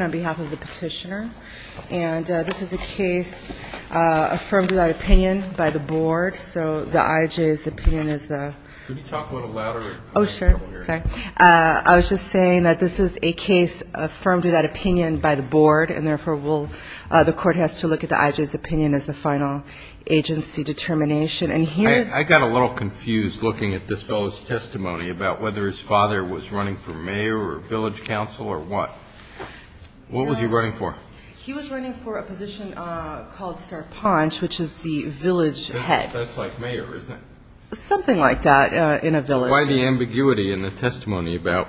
on behalf of the petitioner. And this is a case affirmed without opinion by the board, so the IJ's opinion is the... Could you talk a little louder? Oh, sure. Sorry. I was just saying that this is a case affirmed without opinion by the board, and therefore the court has to look at the IJ's opinion as the final agency determination. I got a little confused looking at this fellow's testimony about whether his father was running for mayor or village council or what. What was he running for? He was running for a position called Sarpanch, which is the village head. That's like mayor, isn't it? Something like that. Why the ambiguity in the testimony about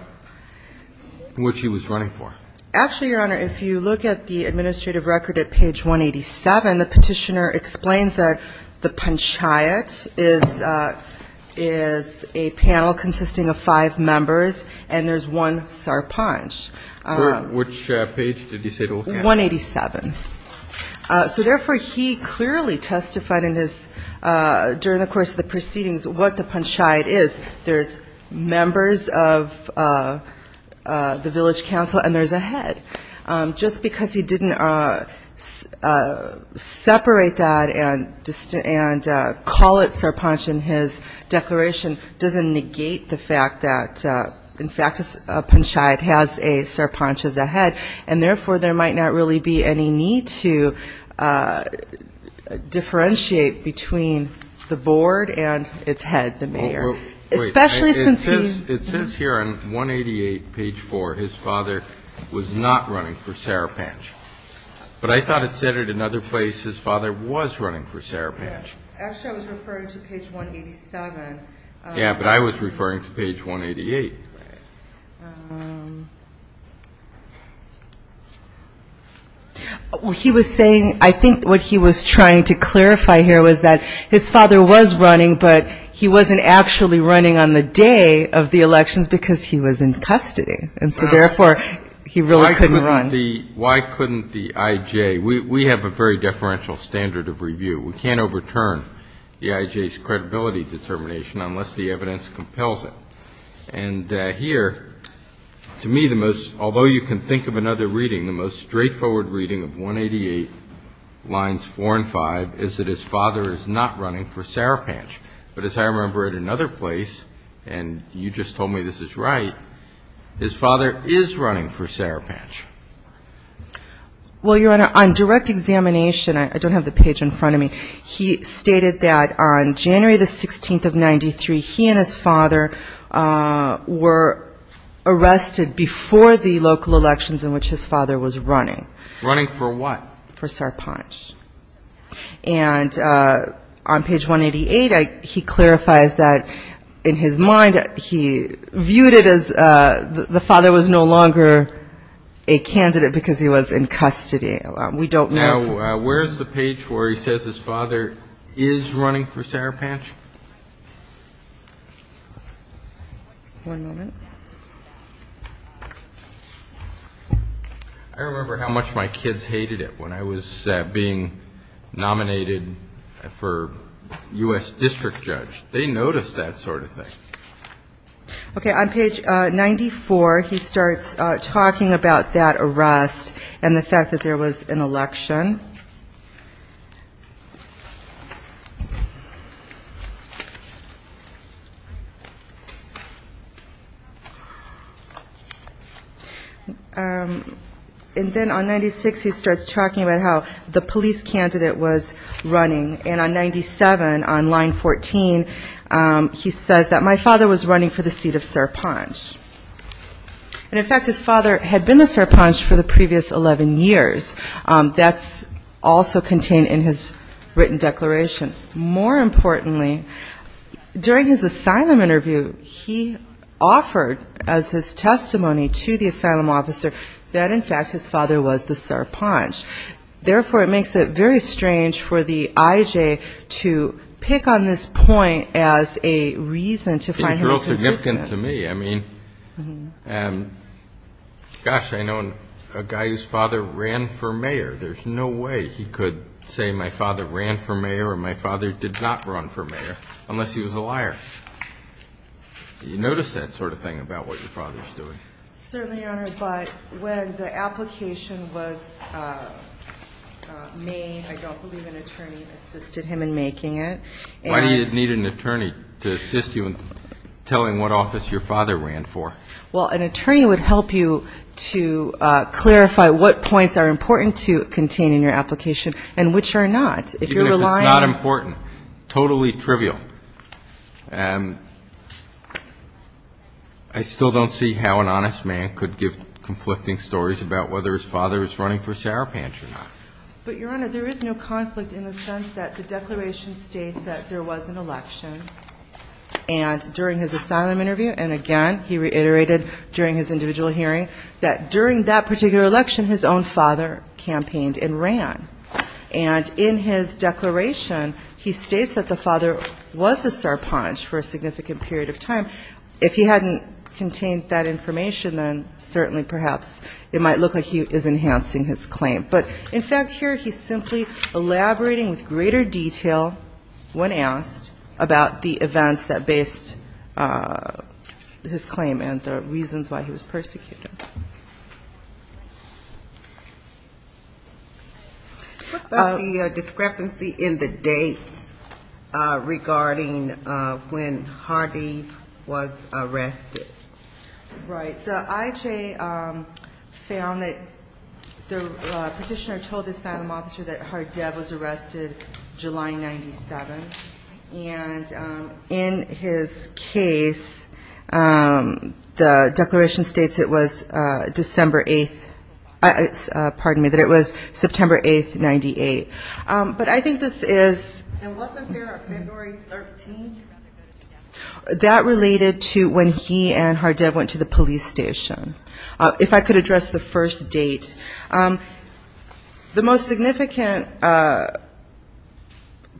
what he was running for? Actually, Your Honor, if you look at the administrative record at page 187, the petitioner explains that the panchayat is a panel consisting of five members, and there's one Sarpanch. Which page did he say to look at? 187. So therefore he clearly testified in his, during the course of the proceedings, what the panchayat is. There's members of the village council and there's a head. Just because he didn't separate that and call it Sarpanch in his declaration doesn't negate the fact that, in fact, a panchayat has a Sarpanch as a head, and therefore there might not really be any need to differentiate between the board and its head, the mayor. Especially since he... It says here on 188, page 4, his father was not running for Sarpanch. But I thought it said at another place his father was running for Sarpanch. Actually, I was referring to page 187. Yeah, but I was referring to page 188. He was saying, I think what he was trying to clarify here was that his father was running, but he wasn't actually running on the day of the elections because he was in custody. And so therefore he really couldn't run. Why couldn't the I.J.? We have a very deferential standard of review. We can't overturn the I.J.'s credibility determination unless the evidence compels it. And here, to me, the most, although you can think of another reading, the most straightforward reading of 188, lines 4 and 5, is that his father is not running for Sarpanch. But as I remember at another place, and you just told me this is right, his father is running for Sarpanch. Well, Your Honor, on direct examination, I don't have the page in front of me, he stated that on January the 16th of 1993, he and his father were arrested before the local elections in which his father was running. Running for what? For Sarpanch. And on page 188, he clarifies that in his mind, he viewed it as the father was no longer a candidate because he was in custody. We don't know if... Now, where is the page where he says his father is running for Sarpanch? One moment. I remember how much my kids hated it when I was being nominated for U.S. district judge. They noticed that sort of thing. Okay. On page 94, he starts talking about that arrest and the fact that there was an election. And then on 96, he starts talking about how the police candidate was running. And on 97, on line 14, he says that my father was running for the seat of Sarpanch. And in fact, his also contained in his written declaration. More importantly, during his asylum interview, he offered as his testimony to the asylum officer that in fact, his father was the Sarpanch. Therefore, it makes it very strange for the IJ to pick on this point as a reason to find him resistant. It's real significant to me. I mean, gosh, I know a guy whose father ran for mayor. There's no way he could say my father ran for mayor or my father did not run for mayor unless he was a liar. You notice that sort of thing about what your father is doing? Certainly, Your Honor. But when the application was made, I don't believe an attorney assisted him in making it. Why do you need an attorney to assist you in telling what office your father ran for? Well, an attorney would help you to clarify what points are important to contain in your application and which are not. If you're relying on Even if it's not important. Totally trivial. I still don't see how an honest man could give conflicting stories about whether his father is running for Sarpanch or not. But, Your Honor, there is no conflict in the sense that the declaration states that there during his individual hearing, that during that particular election, his own father campaigned and ran. And in his declaration, he states that the father was a Sarpanch for a significant period of time. If he hadn't contained that information, then certainly perhaps it might look like he is enhancing his claim. But in fact, here he's simply elaborating with greater detail when asked about the events that based his claim and the reasons why he was persecuted. What about the discrepancy in the dates regarding when Hardev was arrested? Right. The IHA found that the petitioner told the asylum officer that Hardev was arrested July 97. And in his case, the declaration states it was September 8, 98. But I think this is And wasn't there February 13? That related to when he and Hardev went to the police station. If I could address the first date. The most significant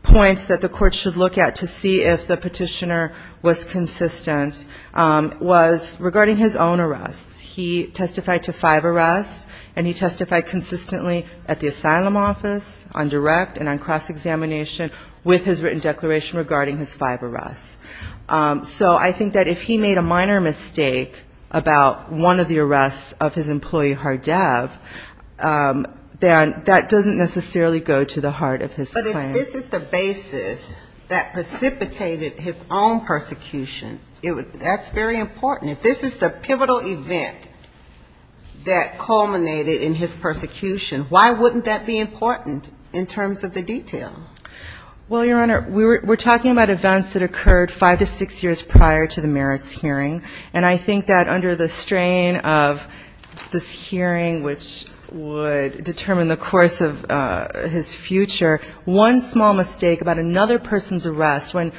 points that the court should look at to see if the petitioner was consistent was regarding his own arrests. He testified to five arrests, and he testified consistently at the asylum office, on direct and on cross-examination, with his written declaration regarding his five arrests. So I think that if he made a minor mistake about one of the arrests of his employee Hardev, then that doesn't necessarily go to the heart of his claim. But if this is the basis that precipitated his own persecution, that's very important. If this is the pivotal event that culminated in his persecution, why wouldn't that be important in terms of the detail? Well, Your Honor, we're talking about events that occurred five to six years prior to the merits hearing. And I think that under the strain of this hearing, which would determine the course of his future, one small mistake about another person's arrest, when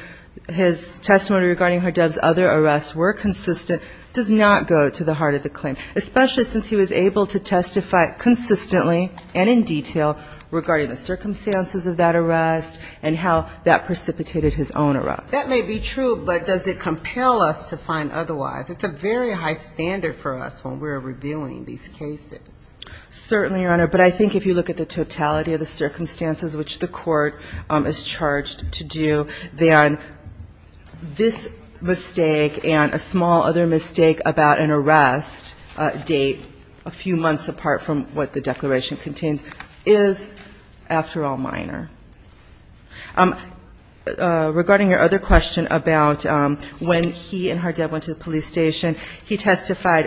his testimony regarding Hardev's other arrests were consistent, does not go to the heart of the claim, especially since he was able to testify consistently and in detail regarding the circumstances of that arrest and how that precipitated his own arrest. That may be true, but does it compel us to find otherwise? It's a very high standard for us when we're reviewing these cases. Certainly, Your Honor. But I think if you look at the totality of the circumstances which the Court is charged to do, then this mistake and a small other mistake about an arrest date a few months apart from what the declaration contains is, after all, minor. Regarding your other question about when he and Hardev went to the police station, he testified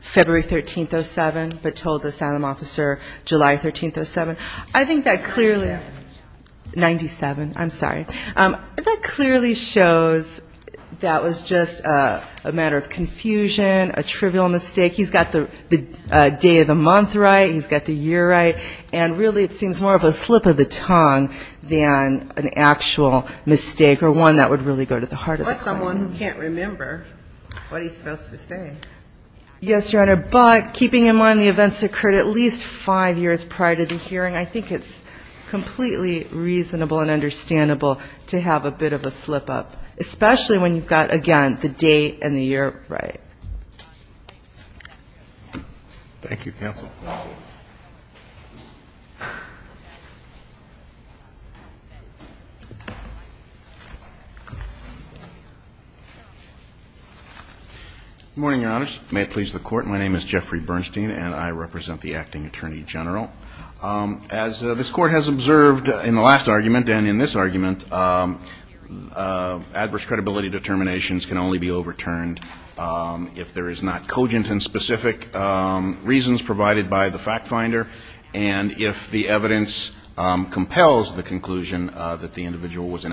February 13, 07, but told the asylum officer July 13, 07. I think that clearly 97. I'm sorry. That clearly shows that was just a matter of confusion, a trivial mistake. He's got the day of the month right. He's got the year right. And really it seems more of a slip of the tongue than an actual mistake or one that would really go to the heart of the claim. Or someone who can't remember what he's supposed to say. Yes, Your Honor. But keeping in mind the events occurred at least five years prior to the hearing, I think it's completely reasonable and understandable to have a bit of a slip-up, especially when you've got, again, the date and the year right. Thank you, counsel. Good morning, Your Honors. May it please the Court, my name is Jeffrey Bernstein and I represent the Acting Attorney General. As this Court has observed in the last argument and in this argument, adverse credibility determinations can only be overturned if there is not cogent and specific reasons provided by the fact finder and if the evidence compels the conclusion that the individual was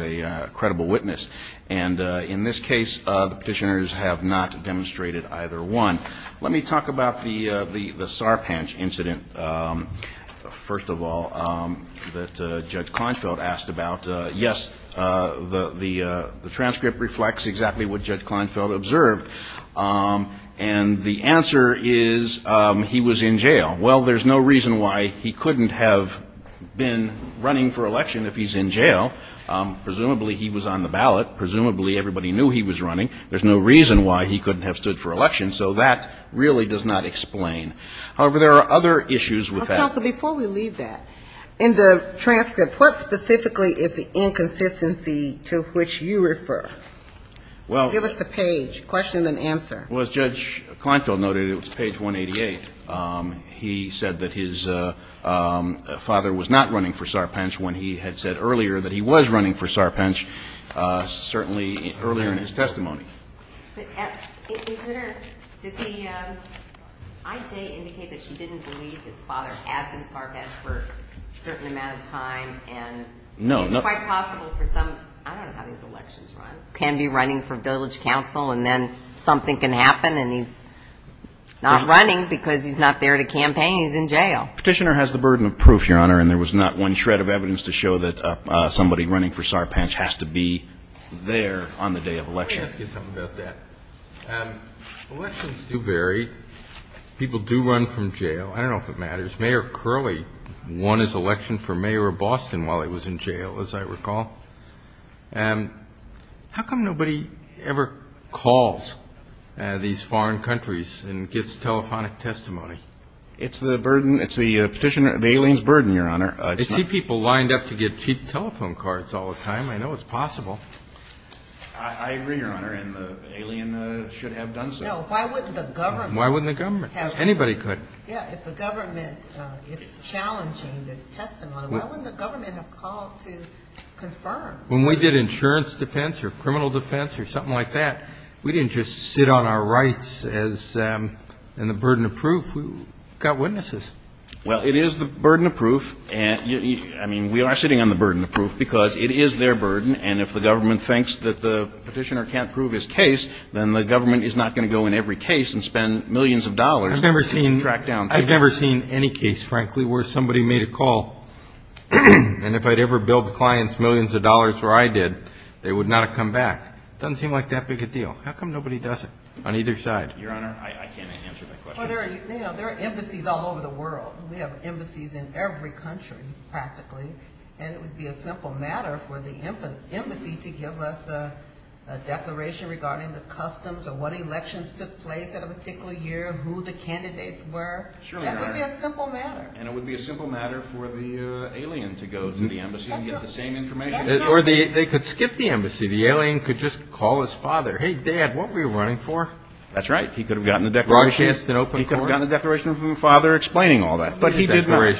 a credible witness. And in this case, the Petitioners have not demonstrated either one. Let me talk about the Sarpanch incident, first of all, that Judge Kleinfeld asked about. Yes, the transcript reflects exactly what Judge Kleinfeld observed. And the answer is he was in jail. Well, there's no reason why he couldn't have been running for election if he's in jail. Presumably he was on the ballot. Presumably everybody knew he was running. There's no reason why he couldn't have stood for election. So that really does not explain. However, there are other issues with that. Well, so before we leave that, in the transcript, what specifically is the inconsistency to which you refer? Give us the page, question and answer. Well, as Judge Kleinfeld noted, it was page 188. He said that his father was not running for Sarpanch when he had said earlier that he was running for Sarpanch, certainly earlier in his testimony. Did the IJ indicate that she didn't believe his father had been Sarpanch for a certain amount of time? And it's quite possible for some, I don't know how these elections run, can be running for village council and then something can happen and he's not running because he's not there to campaign. He's in jail. Petitioner has the burden of proof, Your Honor, and there was not one shred of evidence to show that somebody running for Sarpanch was Sarpanch. I don't know if it matters. Mayor Curley won his election for mayor of Boston while he was in jail, as I recall. How come nobody ever calls these foreign countries and gets telephonic testimony? It's the petitioner, the alien's burden, Your Honor. I see people lined up to get cheap telephone cards all the time. I know it's possible. I agree, Your Honor, and the alien should have done so. Why wouldn't the government? Anybody could. If the government is challenging this testimony, why wouldn't the government have called to confirm? When we did insurance defense or criminal defense or something like that, we didn't just sit on our rights and the burden of proof. We got witnesses. Well, it is the burden of proof. I mean, we are sitting on the burden of proof because it is their burden, and if the government thinks that the petitioner can't prove his case, then the government is not going to go in every case and spend millions of dollars to track down people. I've never seen any case, frankly, where somebody made a call, and if I'd ever billed clients millions of dollars where I did, they would not have come back. It doesn't seem like that big a deal. How come nobody does it on either side? Your Honor, I can't answer that question. Well, there are embassies all over the world. We have embassies in every country, practically, and it would be a simple matter for the embassy to give us a declaration regarding the customs or what elections took place at a particular year, who the candidates were. That would be a simple matter. And it would be a simple matter for the alien to go to the embassy and get the same information. Or they could skip the embassy. The alien could just call his father. Hey, Dad, what were you running for? That's right. He could have gotten the declaration from his father explaining all that. But he did not. I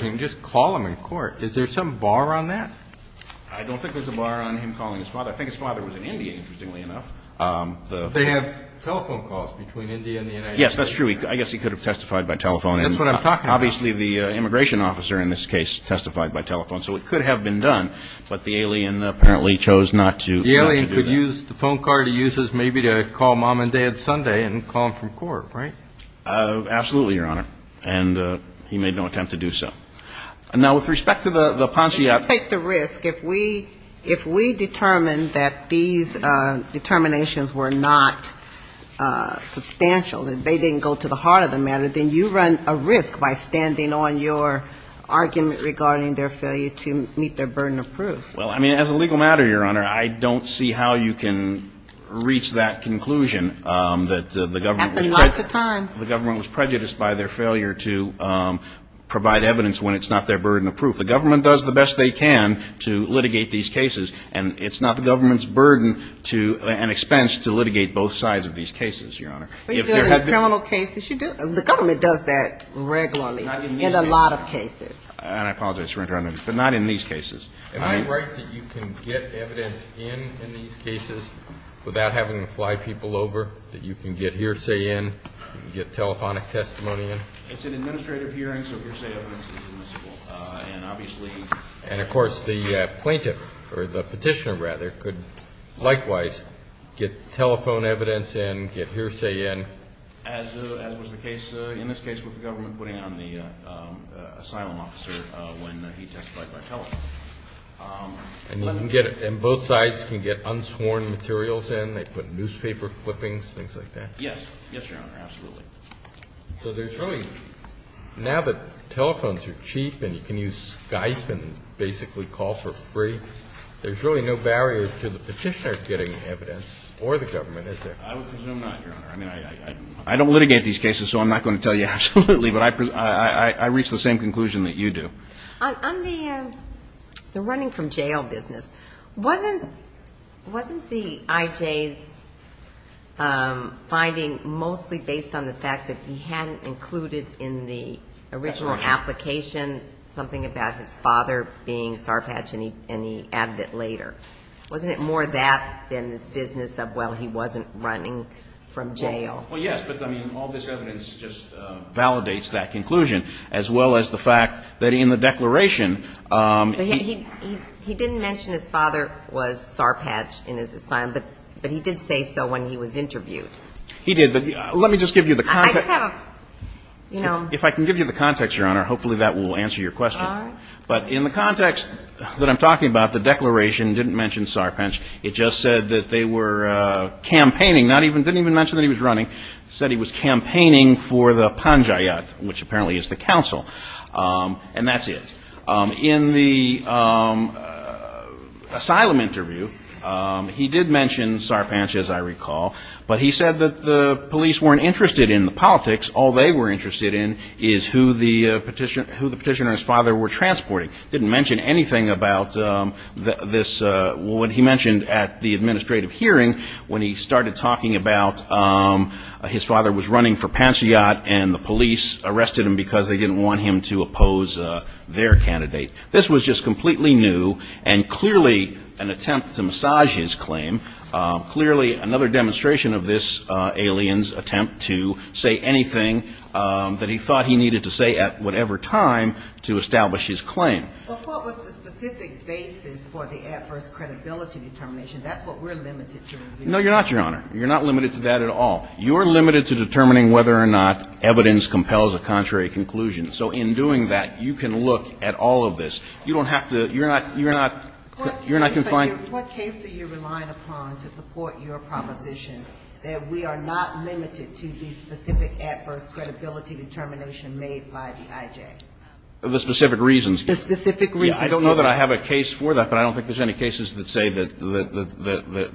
don't think there's a bar on him calling his father. I think his father was in India, interestingly enough. They have telephone calls between India and the United States. Yes, that's true. I guess he could have testified by telephone. That's what I'm talking about. Obviously, the immigration officer in this case testified by telephone, so it could have been done. He could use the phone card he uses maybe to call Mom and Dad Sunday and call them from court, right? Absolutely, Your Honor. And he made no attempt to do so. Now, with respect to the Ponzi act. If we determine that these determinations were not substantial, that they didn't go to the heart of the matter, then you run a risk by standing on your argument regarding their failure to meet their burden of proof. Well, I mean, as a legal matter, Your Honor, I don't see how you can reach that conclusion. It happened lots of times. The government was prejudiced by their failure to provide evidence when it's not their burden of proof. The government does the best they can to litigate these cases, and it's not the government's burden and expense to litigate both sides of these cases, Your Honor. But in criminal cases, the government does that regularly in a lot of cases. And I apologize, Your Honor, but not in these cases. Am I right that you can get evidence in these cases without having to fly people over, that you can get hearsay in, get telephonic testimony in? It's an administrative hearing, so hearsay evidence is admissible. And, of course, the plaintiff, or the petitioner, rather, could likewise get telephone evidence in, get hearsay in. As was the case in this case with the government putting it on the asylum officer when he testified by telephone. And both sides can get unsworn materials in? They put newspaper clippings, things like that? Yes. Yes, Your Honor, absolutely. Now that telephones are cheap and you can use Skype and basically call for free, there's really no barrier to the petitioner getting evidence or the government, is there? I would presume not, Your Honor. I don't litigate these cases, so I'm not going to tell you absolutely, but I reach the same conclusion that you do. On the running from jail business, wasn't the I.J.'s finding, mostly based on the fact that he hadn't included in the original application something about his father being Sarpatch and he added it later, wasn't it more that than this business of, well, he wasn't running from jail? Well, yes, but, I mean, all this evidence just validates that conclusion as well as the fact that in the declaration he didn't mention his father was Sarpatch in his asylum, but he did say so when he was interviewed. He did, but let me just give you the context. If I can give you the context, Your Honor, hopefully that will answer your question. But in the context that I'm talking about, the declaration didn't mention Sarpatch. It just said that they were campaigning, didn't even mention that he was running. It said he was campaigning for the Panjayat, which apparently is the council, and that's it. In the asylum interview, he did mention Sarpatch, as I recall, but he said that the police weren't interested in the politics. All they were interested in is who the petitioner and his father were transporting. Didn't mention anything about this, what he mentioned at the administrative hearing when he started talking about his father was running for Panjayat and the police arrested him because they didn't want him to oppose their candidate. This was just completely new and clearly an attempt to massage his claim. Clearly another demonstration of this alien's attempt to say anything that he thought he needed to say at whatever time to establish his claim. But what was the specific basis for the adverse credibility determination? That's what we're limited to reviewing. No, you're not, Your Honor. You're not limited to that at all. You're limited to determining whether or not evidence compels a contrary conclusion. So in doing that, you can look at all of this. You don't have to, you're not, you're not, you're not confined. What case are you relying upon to support your proposition that we are not limited to the specific adverse credibility determination made by the IJ? The specific reasons. The specific reasons. I don't know that I have a case for that, but I don't think there's any cases that say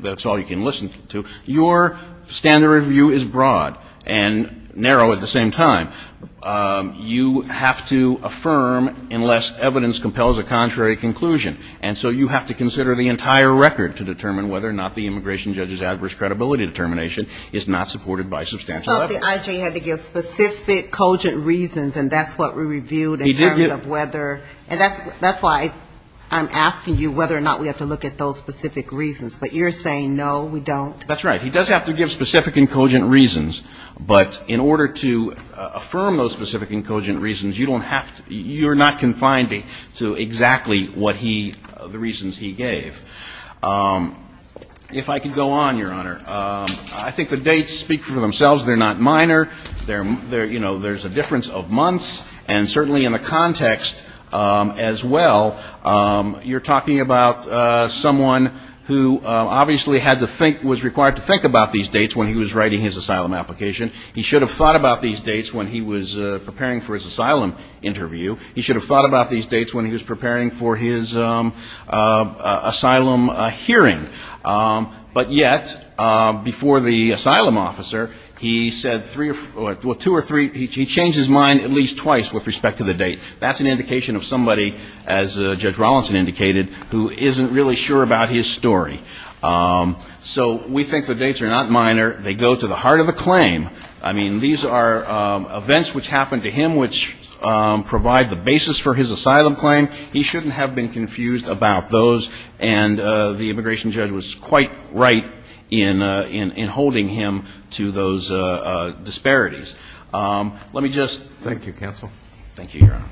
that's all you can listen to. Your standard of view is broad and narrow at the same time. You have to affirm unless evidence compels a contrary conclusion. And so you have to consider the entire record to determine whether or not the immigration judge's adverse credibility determination is not supported by substantial evidence. But the IJ had to give specific, cogent reasons, and that's what we reviewed in terms of whether, and that's why I'm asking you whether or not we have to look at those specific reasons. But you're saying no, we don't? That's right. He does have to give specific and cogent reasons. But in order to affirm those specific and cogent reasons, you don't have to, you're not confined to exactly what he, the reasons he gave. If I could go on, Your Honor. I think the dates speak for themselves. They're not minor. They're, you know, there's a difference of months. And certainly in the context as well, you're talking about someone who obviously had to think, was required to think about these dates when he was writing his asylum application. He should have thought about these dates when he was preparing for his asylum interview. He should have thought about these dates when he was preparing for his asylum hearing. But yet, before the asylum officer, he said three or four, well, two or three, he changed his mind at least twice with respect to the date. That's an indication of somebody, as Judge Rawlinson indicated, who isn't really sure about his story. So we think the dates are not minor. They go to the heart of the claim. I mean, these are events which happened to him which provide the basis for his asylum claim. He shouldn't have been confused about those. And the immigration judge was quite right in holding him to those disparities. Let me just. Thank you, counsel. Thank you, Your Honor.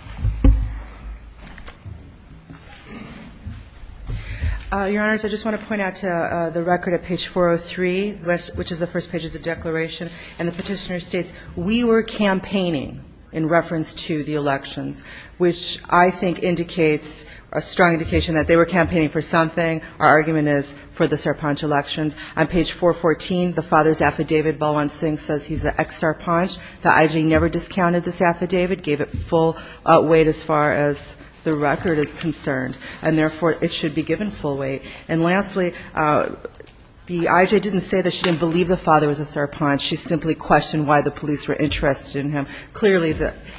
Your Honors, I just want to point out to the record at page 403, which is the first page of the declaration. And the petitioner states, We were campaigning in reference to the elections, which I think indicates, a strong indication that they were campaigning for something. Our argument is for the Sarpanch elections. On page 414, the father's affidavit, Balwant Singh, says he's an ex-Sarpanch. The IJ never discounted this affidavit, gave it full weight as far as the record is concerned. And therefore, it should be given full weight. And lastly, the IJ didn't say that she didn't believe the father was a Sarpanch. She simply questioned why the police were interested in him. Clearly,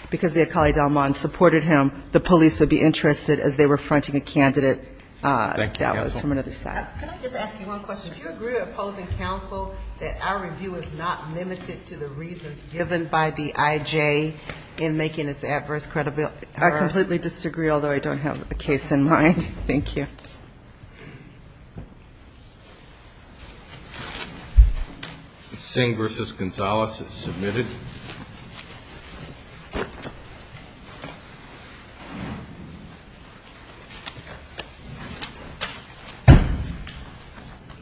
because the Akali Dalman supported him, the police would be interested as they were fronting a candidate that was from another side. Thank you, counsel. Can I just ask you one question? Would you agree with opposing counsel that our review is not limited to the reasons given by the IJ in making its adverse credibility? I completely disagree, although I don't have a case in mind. Thank you. Singh v. Gonzalez is submitted.